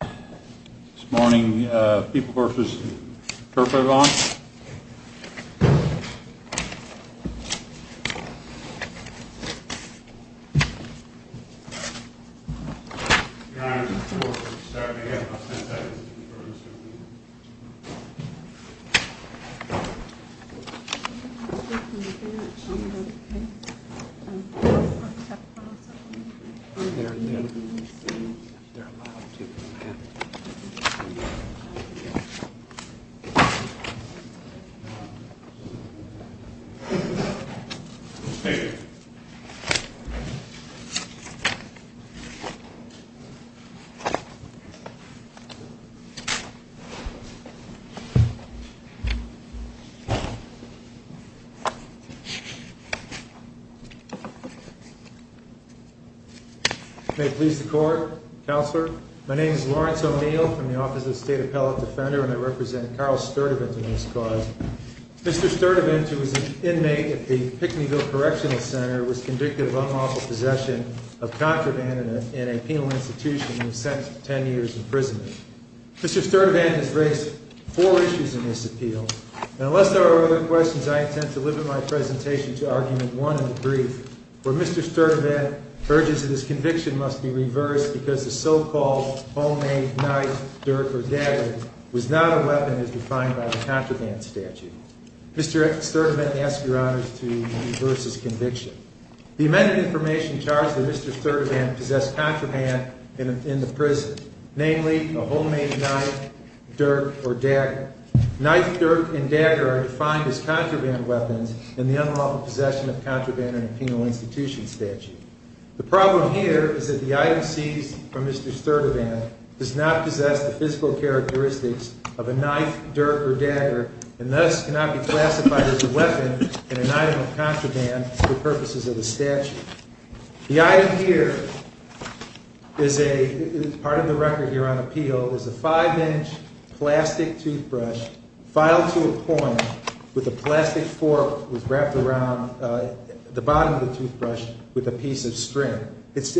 This morning, people Guerfas turf in law glyphs. Yeah. Yeah. Mhm. Yeah. Yes. Mhm. Let. Okay. Yeah. Okay. Please. The court counselor. My name is Lawrence O'Neill from the Office of State Appellate Defender, and I represent Carl Sturtevant in this cause. Mr Sturtevant, who was an inmate at the Pickneyville Correctional Center, was convicted of unlawful possession of contraband in a penal institution and was sentenced to 10 years imprisonment. Mr Sturtevant has raised four issues in this appeal, and unless there are other questions, I intend to limit my presentation to argument one in the brief, where Mr Sturtevant urges that his conviction must be reversed because the so called homemade knife, dirt or data was not a weapon as defined by the contraband statute. Mr Sturtevant asks your honors to reverse his conviction. The in the prison, namely a homemade knife, dirt or dad, knife, dirt and dagger defined as contraband weapons in the unlawful possession of contraband in a penal institution statute. The problem here is that the item seized from Mr Sturtevant does not possess the physical characteristics of a knife, dirt or dagger, and thus cannot be classified as a weapon in an item of contraband for purposes of the statute. The item here is a part of the record here on appeal is a five inch plastic toothbrush filed to a point with a plastic fork was wrapped around the bottom of the toothbrush with a piece of string. It's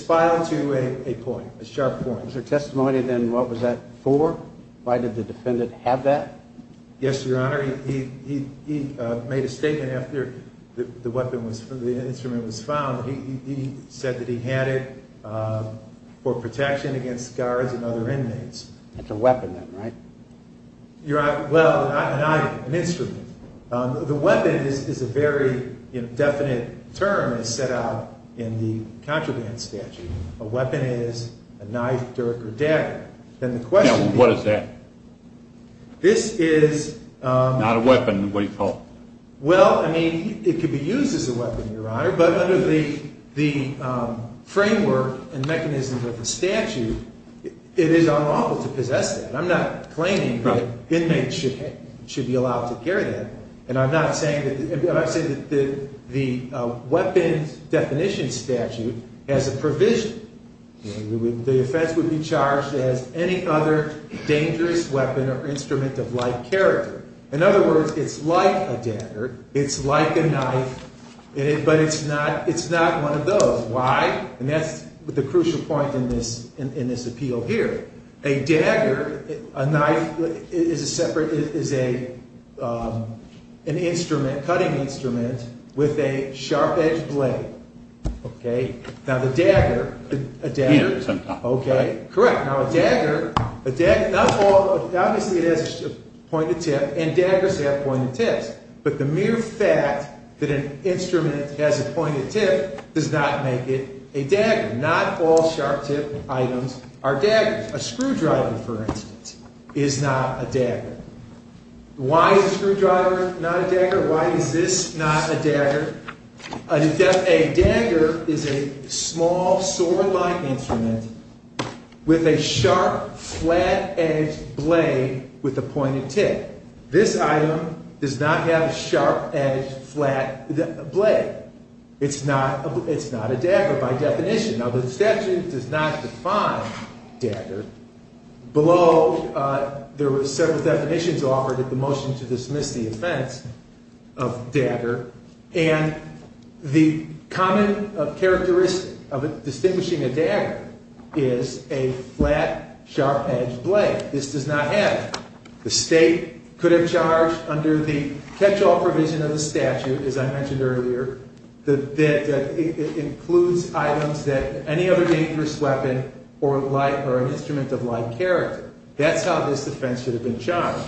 filed to a point, a sharp point. Is there testimony? Then what was that for? Why did the defendant have that? Yes, Your Honor. He made a statement after the weapon was the instrument was found. He said that he had it for protection against guards and other inmates. It's a weapon, right? You're right. Well, an item, an instrument. The weapon is a very indefinite term is set out in the contraband statute. A weapon is a knife, dirt or dagger. Then the question, what is that? This is not a weapon. What do you call? Well, I mean, it could be used as a the framework and mechanisms of the statute. It is unlawful to possess that. I'm not claiming that inmates should be allowed to carry that. And I'm not saying that I've said that the weapons definition statute has a provision. The offense would be charged as any other dangerous weapon or instrument of life character. In other words, it's like a dagger. It's like a knife, but it's not. It's not one of those. Why? And that's the crucial point in this in this appeal here. A dagger, a knife is a separate is a, um, an instrument cutting instrument with a sharp edge blade. Okay, now the dagger, a dagger. Okay, correct. Now a dagger, a dagger. That's all. Obviously it has a point of tip and daggers have pointed tips. But the mere fact that an instrument has a pointed tip does not make it a dagger. Not all sharp tip items are daggers. A screwdriver, for instance, is not a dagger. Why is a screwdriver not a dagger? Why is this not a dagger? A dagger is a small sword like instrument with a sharp, flat edge blade with a pointed tip. This item does not have a flat blade. It's not a, it's not a dagger by definition. Now the statute does not define dagger. Below, uh, there was several definitions offered at the motion to dismiss the offense of dagger. And the common characteristic of distinguishing a dagger is a flat, sharp edged blade. This does not have. The catch-all provision of the statute, as I mentioned earlier, that, that includes items that any other dangerous weapon or light or an instrument of light character. That's how this defense should have been charged.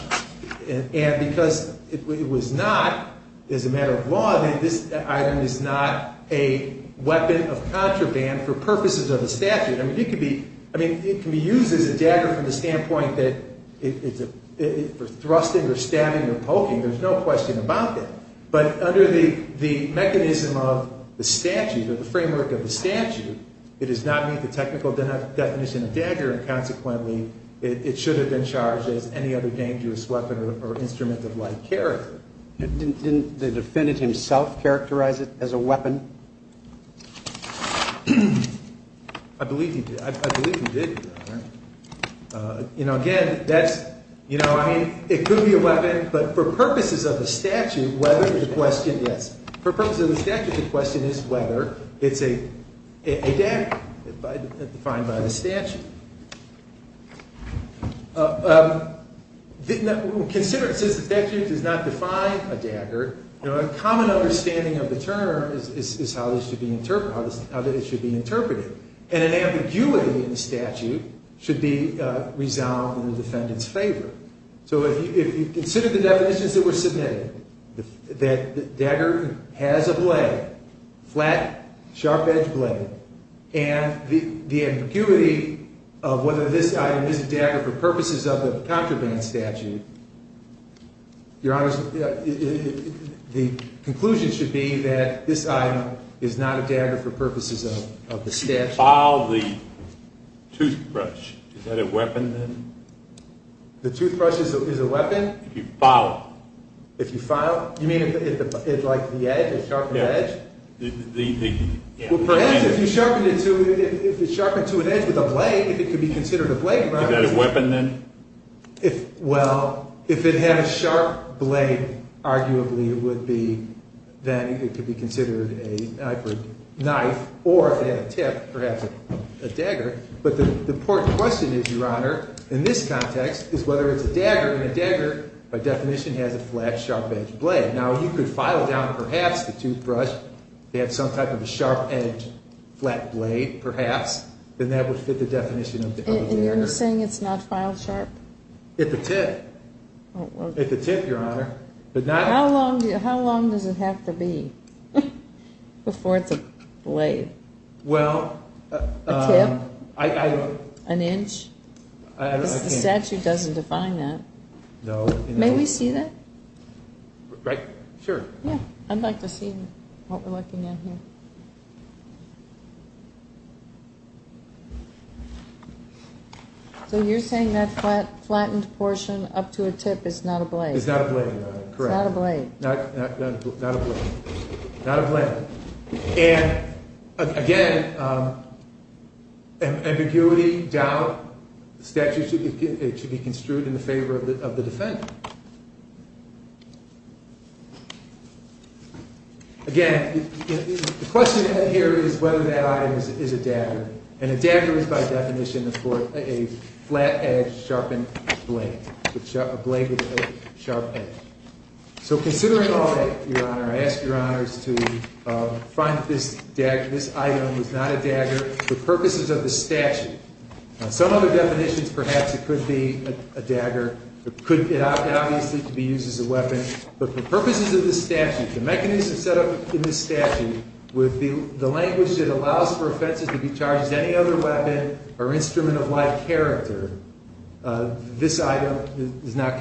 And because it was not, as a matter of law, this item is not a weapon of contraband for purposes of the statute. I mean, it could be, I mean, it can be used as a dagger from the question about it, but under the, the mechanism of the statute or the framework of the statute, it does not meet the technical definition of dagger. And consequently it should have been charged as any other dangerous weapon or instrument of light character. And didn't the defendant himself characterize it as a weapon? I believe he did. I believe he did. Uh, you know, again, that's, you know, I mean, for purposes of the statute, whether the question, yes, for purposes of the statute, the question is whether it's a, a dagger defined by the statute. Uh, um, consider it says the statute does not define a dagger. You know, a common understanding of the term is, is, is how this should be interpreted, how this, how that it should be interpreted. And an ambiguity in the statute should be, uh, in the defendant's favor. So if you consider the definitions that were submitted, that the dagger has a blade, flat, sharp edge blade, and the, the ambiguity of whether this item is a dagger for purposes of the contraband statute, your honors, the conclusion should be that this item is not a dagger for purposes of the statute. File the toothbrush. Is that a weapon then? The toothbrush is a weapon? If you file it. If you file it, you mean like the edge, the sharpened edge? If you sharpen it to, if it's sharpened to an edge with a blade, it could be considered a blade. Is that a weapon then? If, well, if it had a sharp blade, arguably it would be, then it could be considered a knife or if it had a tip, perhaps a dagger. But the important question is, your honor, in this context is whether it's a dagger and a dagger by definition has a flat, sharp edge blade. Now you could file down perhaps the toothbrush to have some type of a sharp edge, flat blade, perhaps, then that would fit the definition of the dagger. And you're saying it's not file sharp? It's a tip. It's a tip, your honor. But not... How long, how long does it have to be before it's a blade? Well... A tip? I... An inch? The statute doesn't define that. No. May we see that? Right, sure. Yeah, I'd like to see what we're looking at here. So you're saying that flat, flattened portion up to a tip is not a blade? It's not a blade, your honor, correct. It's not a blade. Not, not, not, not a blade. Not a blade. And again, ambiguity, doubt, the statute should be, it should be construed in the favor of the, of the defendant. Again, the question here is whether that item is a dagger. And a dagger is by definition, of course, a flat-edged, sharpened blade. A blade with a sharp edge. So considering all that, your honor, I ask your honors to find that this item is not a dagger for purposes of the statute. On some other definitions, perhaps it could be a dagger. It could, obviously, be used as a weapon. But for purposes of the statute, the mechanism set up in the statute, with the language that allows for offenses to be charged as any other weapon or instrument of life character, this item is not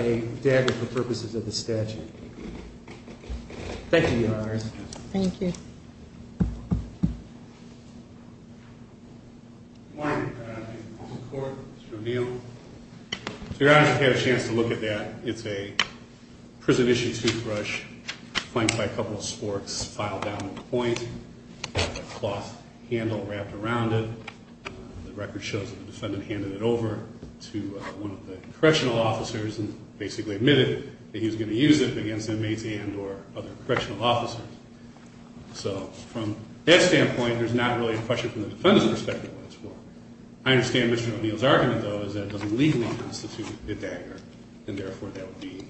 a dagger for purposes of the statute. Thank you, your honors. Thank you. Mr. O'Neill. So your honors have had a chance to look at that. It's a prison-issue toothbrush, flanked by a couple of sporks, filed down to the point, with a cloth handle wrapped around it. The record shows that the defendant handed it over to one of the correctional officers and basically admitted that he was going to use it against inmates and or other correctional officers. So from that standpoint, there's not really a question from the defendant's perspective what it's for. I understand Mr. O'Neill's argument, though, is that it doesn't legally constitute a dagger, and therefore that would be,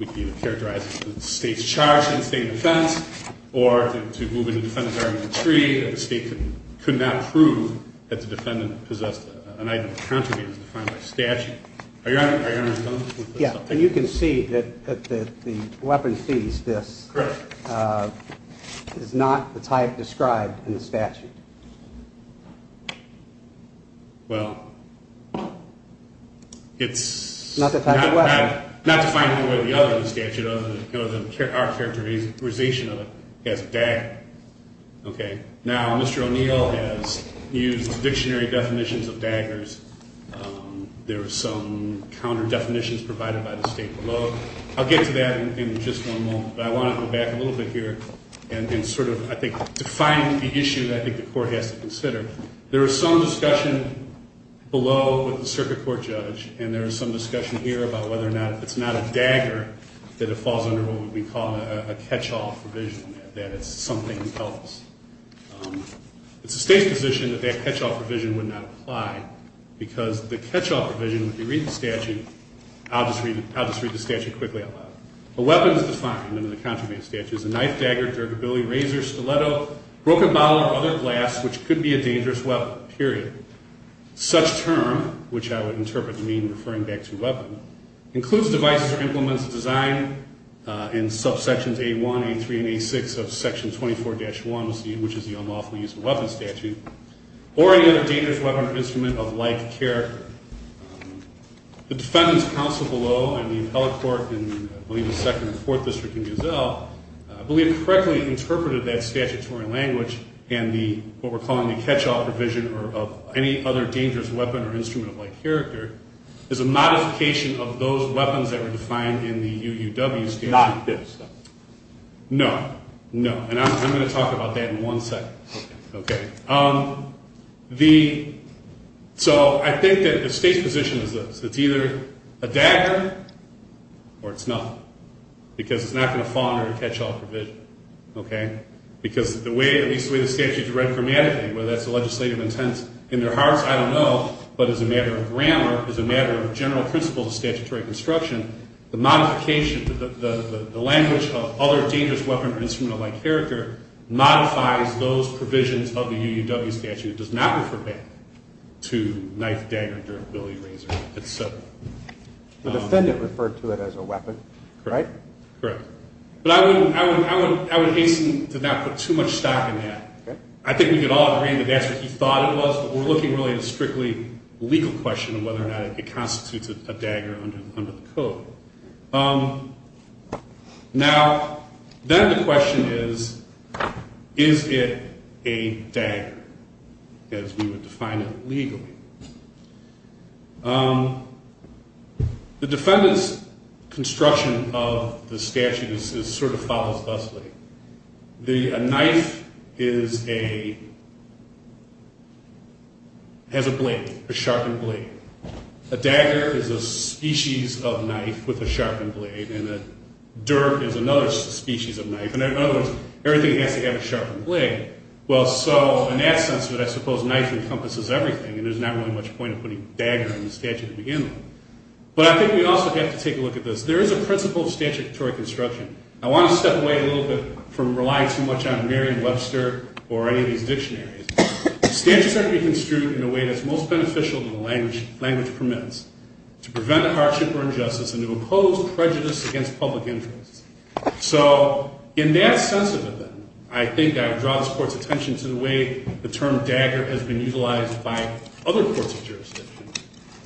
would be characterized as the state's charge in state defense or to move into defendant's argument three, that the state could not prove that the defendant possessed an item of contraband as defined by statute. Are your honors done? Yeah, and you can see that the weapon seized, this, is not the type described in the statute. Well, it's… Not the type of weapon. Not defined in the way the other statute, other than our characterization of it as a dagger. Okay. Now, Mr. O'Neill has used dictionary definitions of daggers. There are some counter-definitions provided by the state below. I'll get to that in just one moment, but I want to go back a little bit here and sort of, I think, define the issue that I think the court has to consider. There is some discussion below with the circuit court judge, and there is some discussion here about whether or not it's not a dagger that it falls under what we call a catch-all provision, that it's something that helps. It's the state's position that that catch-all provision would not apply, because the catch-all provision, if you read the statute, I'll just read the statute quickly out loud. A weapon is defined under the contraband statute as a knife, dagger, dergability, razor, stiletto, broken bottle, or other glass, which could be a dangerous weapon, period. Such term, which I would interpret to mean referring back to weapon, includes devices or implements designed in subsections A1, A3, and A6 of section 24-1, which is the unlawful use of weapon statute, or any other dangerous weapon or instrument of like character. The defendant's counsel below and the appellate court in, I believe, the second and fourth district in Giselle, I believe, correctly interpreted that statutory language and what we're calling the catch-all provision of any other dangerous weapon or instrument of like character as a modification of those weapons that were defined in the UUW statute. Not this. No. No. And I'm going to talk about that in one second. Okay. The – so I think that the state's position is this. It's either a dagger or it's nothing, because it's not going to fall under a catch-all provision, okay? Because the way – at least the way the statute's read grammatically, whether that's a legislative intent in their hearts, I don't know, but as a matter of grammar, as a matter of general principles of statutory construction, the modification – the language of other dangerous weapon or instrument of like character modifies those provisions of the UUW statute. It does not refer back to knife, dagger, dirt, billy, razor, et cetera. The defendant referred to it as a weapon, right? Correct. Correct. But I would hasten to not put too much stock in that. Okay. I think we can all agree that that's what he thought it was, but we're looking really at a strictly legal question of whether or not it constitutes a dagger under the code. Now, then the question is, is it a dagger as we would define it legally? The defendant's construction of the statute is – sort of follows thusly. A knife is a – has a blade, a sharpened blade. A dagger is a species of knife with a sharpened blade, and a dirt is another species of knife. And in other words, everything has to have a sharpened blade. Well, so in that sense, I suppose knife encompasses everything, and there's not really much point in putting dagger in the statute at the end. But I think we also have to take a look at this. There is a principle of statutory construction. I want to step away a little bit from – rely too much on Merriam-Webster or any of these dictionaries. Statutes are to be construed in a way that's most beneficial to the language it permits, to prevent a hardship or injustice, and to impose prejudice against public interest. So in that sense of it, then, I think I would draw this Court's attention to the way the term dagger has been utilized by other courts of jurisdiction.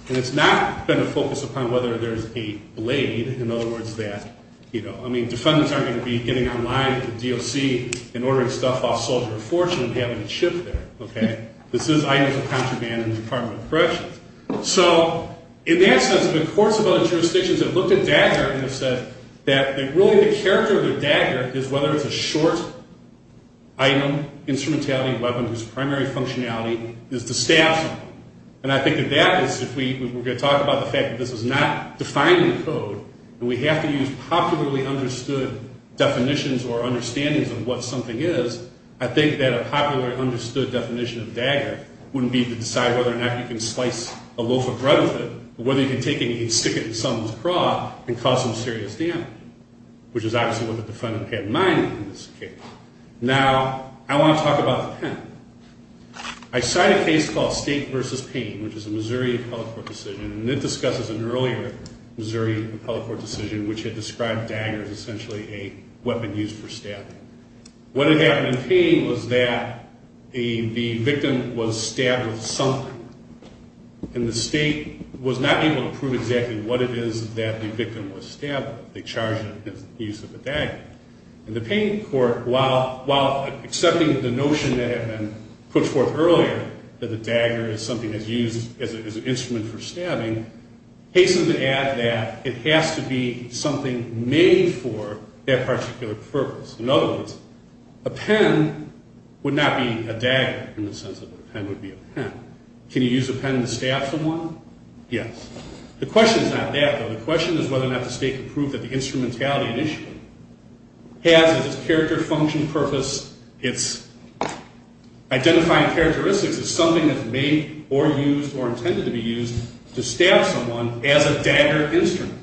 And it's not been a focus upon whether there's a blade. In other words, that – I mean, defendants aren't going to be getting online at the DOC and ordering stuff off Soldier of Fortune and having it shipped there, okay? This is items of contraband in the Department of Corrections. So in that sense, the courts of other jurisdictions have looked at dagger and have said that really the character of the dagger is whether it's a short-item instrumentality weapon whose primary functionality is to staff someone. And I think that that is – if we're going to talk about the fact that this is not defined in the code and we have to use popularly understood definitions or understandings of what something is, I think that a popularly understood definition of dagger wouldn't be to decide whether or not you can slice a loaf of bread with it or whether you can take it and stick it in someone's craw and cause some serious damage, which is obviously what the defendant had in mind in this case. Now, I want to talk about the pen. I cite a case called State v. Payne, which is a Missouri appellate court decision, and it discusses an earlier Missouri appellate court decision which had described dagger as essentially a weapon used for staffing. What had happened in Payne was that the victim was stabbed with something, and the state was not able to prove exactly what it is that the victim was stabbed with. And the Payne court, while accepting the notion that had been put forth earlier that the dagger is something that's used as an instrument for stabbing, hastens to add that it has to be something made for that particular purpose. In other words, a pen would not be a dagger in the sense that a pen would be a pen. Can you use a pen to stab someone? Yes. The question is not that, though. The question is whether or not the state can prove that the instrumentality initially has as its character, function, purpose, its identifying characteristics as something that's made or used or intended to be used to stab someone as a dagger instrument.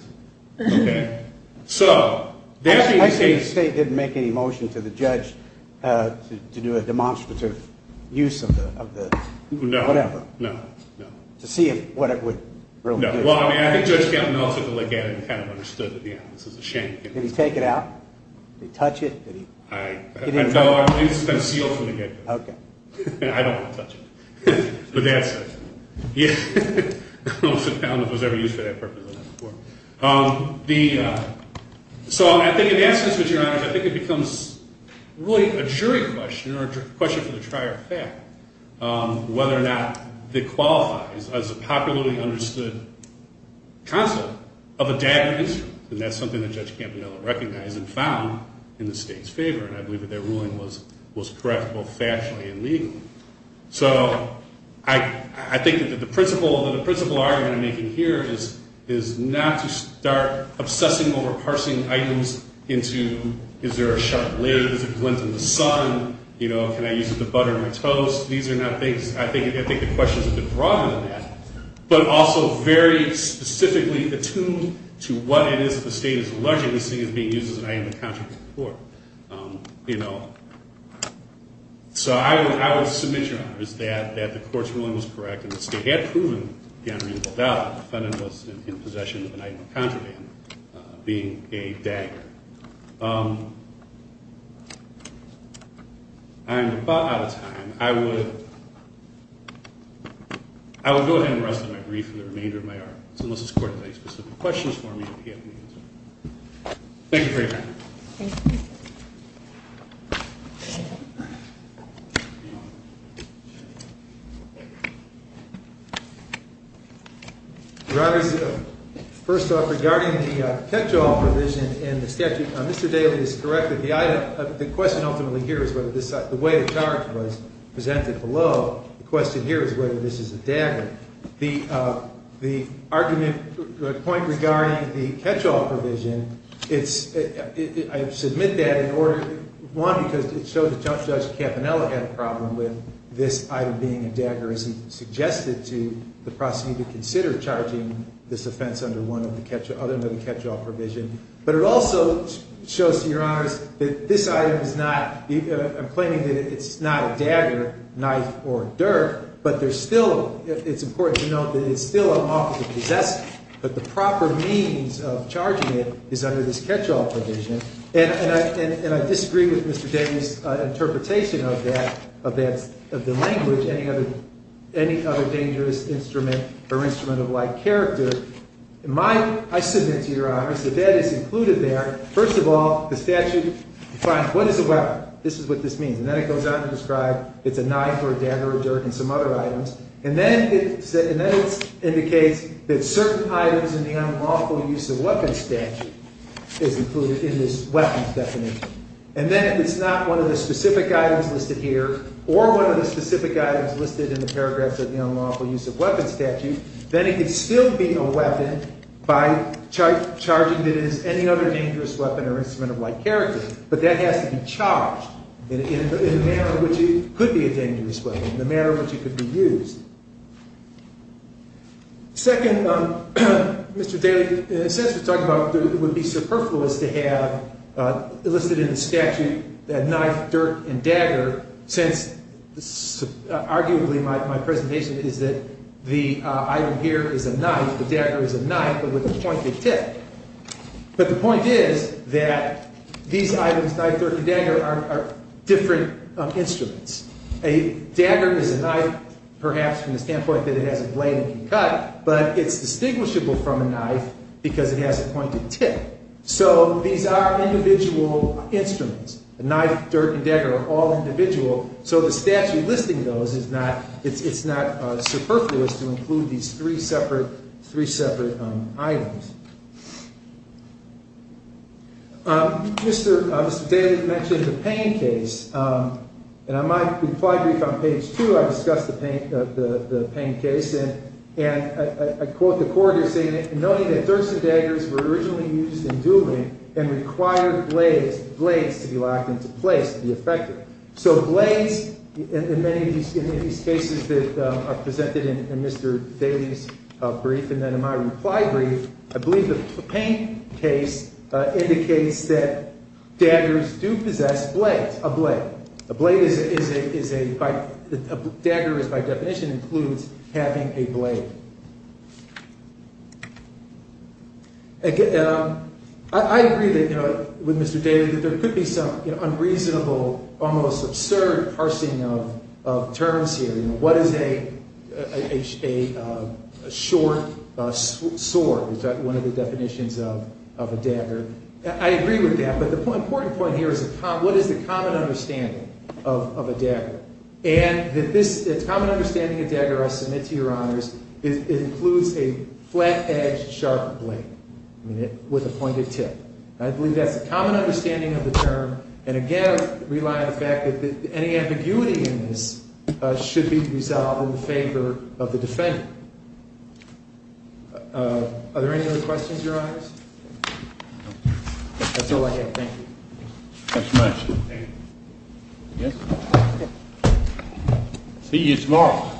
Okay? So that can be taken. I say the state didn't make any motion to the judge to do a demonstrative use of the whatever. No, no, no. To see what it would really do. No. Well, I mean, I think Judge Gatineau took a look at it and kind of understood that, yeah, this is a shank. Did he take it out? Did he touch it? I don't know. I believe it's been sealed from the get-go. Okay. I don't want to touch it. But that's it. Yeah. I don't know if it was ever used for that purpose or not before. So I think in that sense, Your Honor, I think it becomes really a jury question or a question for the trier of fact, whether or not it qualifies as a popularly understood concept of a dagger instrument. And that's something that Judge Campanella recognized and found in the state's favor. And I believe that that ruling was correct both factually and legally. So I think that the principal argument I'm making here is not to start obsessing over parsing items into, is there a sharp blade? Is there a glint in the sun? Can I use it to butter my toast? These are not things. I think the question is a bit broader than that, but also very specifically attuned to what it is that the state is alleging this thing is being used as an item of contraband for. So I will submit, Your Honor, that the court's ruling was correct and the state had proven the unreasonable doubt that the defendant was in possession of an item of contraband being a dagger. I am about out of time. I will go ahead and rest on my brief for the remainder of my hour. So unless this court has any specific questions for me, I'll be happy to answer them. Thank you for your time. Thank you. Your Honor, first off, regarding the catch-all provision in the statute, Mr. Daly is correct that the question ultimately here is whether this way of charge was presented below. The question here is whether this is a dagger. The argument, the point regarding the catch-all provision, it's, I submit that in order, one, because it shows that Judge Cappanella had a problem with this item being a dagger, as he suggested to the prosecutor to consider charging this offense under one of the catch-all, other than the catch-all provision. But it also shows, Your Honors, that this item is not, I'm claiming that it's not a dagger, knife, or dirt, but there's still, it's important to note that it's still an office of possession, but the proper means of charging it is under this catch-all provision. And I disagree with Mr. Daly's interpretation of that, of the language, any other dangerous instrument or instrument of like character. I submit to Your Honors that that is included there. First of all, the statute defines what is a weapon. This is what this means. And then it goes on to describe it's a knife or a dagger or dirt and some other items. And then it indicates that certain items in the unlawful use of weapons statute is included in this weapons definition. And then if it's not one of the specific items listed here or one of the specific items listed in the paragraphs of the unlawful use of weapons statute, then it could still be a weapon by charging it as any other dangerous weapon or instrument of like character, but that has to be charged in a manner in which it could be a dangerous weapon, in a manner in which it could be used. Second, Mr. Daly, since we're talking about what would be superfluous to have listed in the statute that knife, dirt, and dagger, since arguably my presentation is that the item here is a knife, the dagger is a knife, but with the pointed tip. But the point is that these items, knife, dirt, and dagger, are different instruments. A dagger is a knife perhaps from the standpoint that it has a blade and can cut, but it's distinguishable from a knife because it has a pointed tip. So these are individual instruments. A knife, dirt, and dagger are all individual, so the statute listing those is not superfluous to include these three separate items. Mr. Daly mentioned the pain case, and in my reply brief on page two, I discussed the pain case, and I quote the corridor saying, knowing that dirts and daggers were originally used in dueling and required blades to be locked into place to be effective. So blades, in many of these cases that are presented in Mr. Daly's brief and then in my reply brief, I believe the pain case indicates that daggers do possess blades, a blade. A blade is a, a dagger is by definition includes having a blade. I agree with Mr. Daly that there could be some unreasonable, almost absurd parsing of terms here. What is a short sword? Is that one of the definitions of a dagger? I agree with that, but the important point here is what is the common understanding of a dagger? And that this, the common understanding of dagger, I submit to your honors, includes a flat-edged sharp blade with a pointed tip. I believe that's the common understanding of the term, and again, rely on the fact that any ambiguity in this should be resolved in favor of the defendant. Are there any other questions, your honors? That's all I have. Thank you. Thank you very much. See you tomorrow.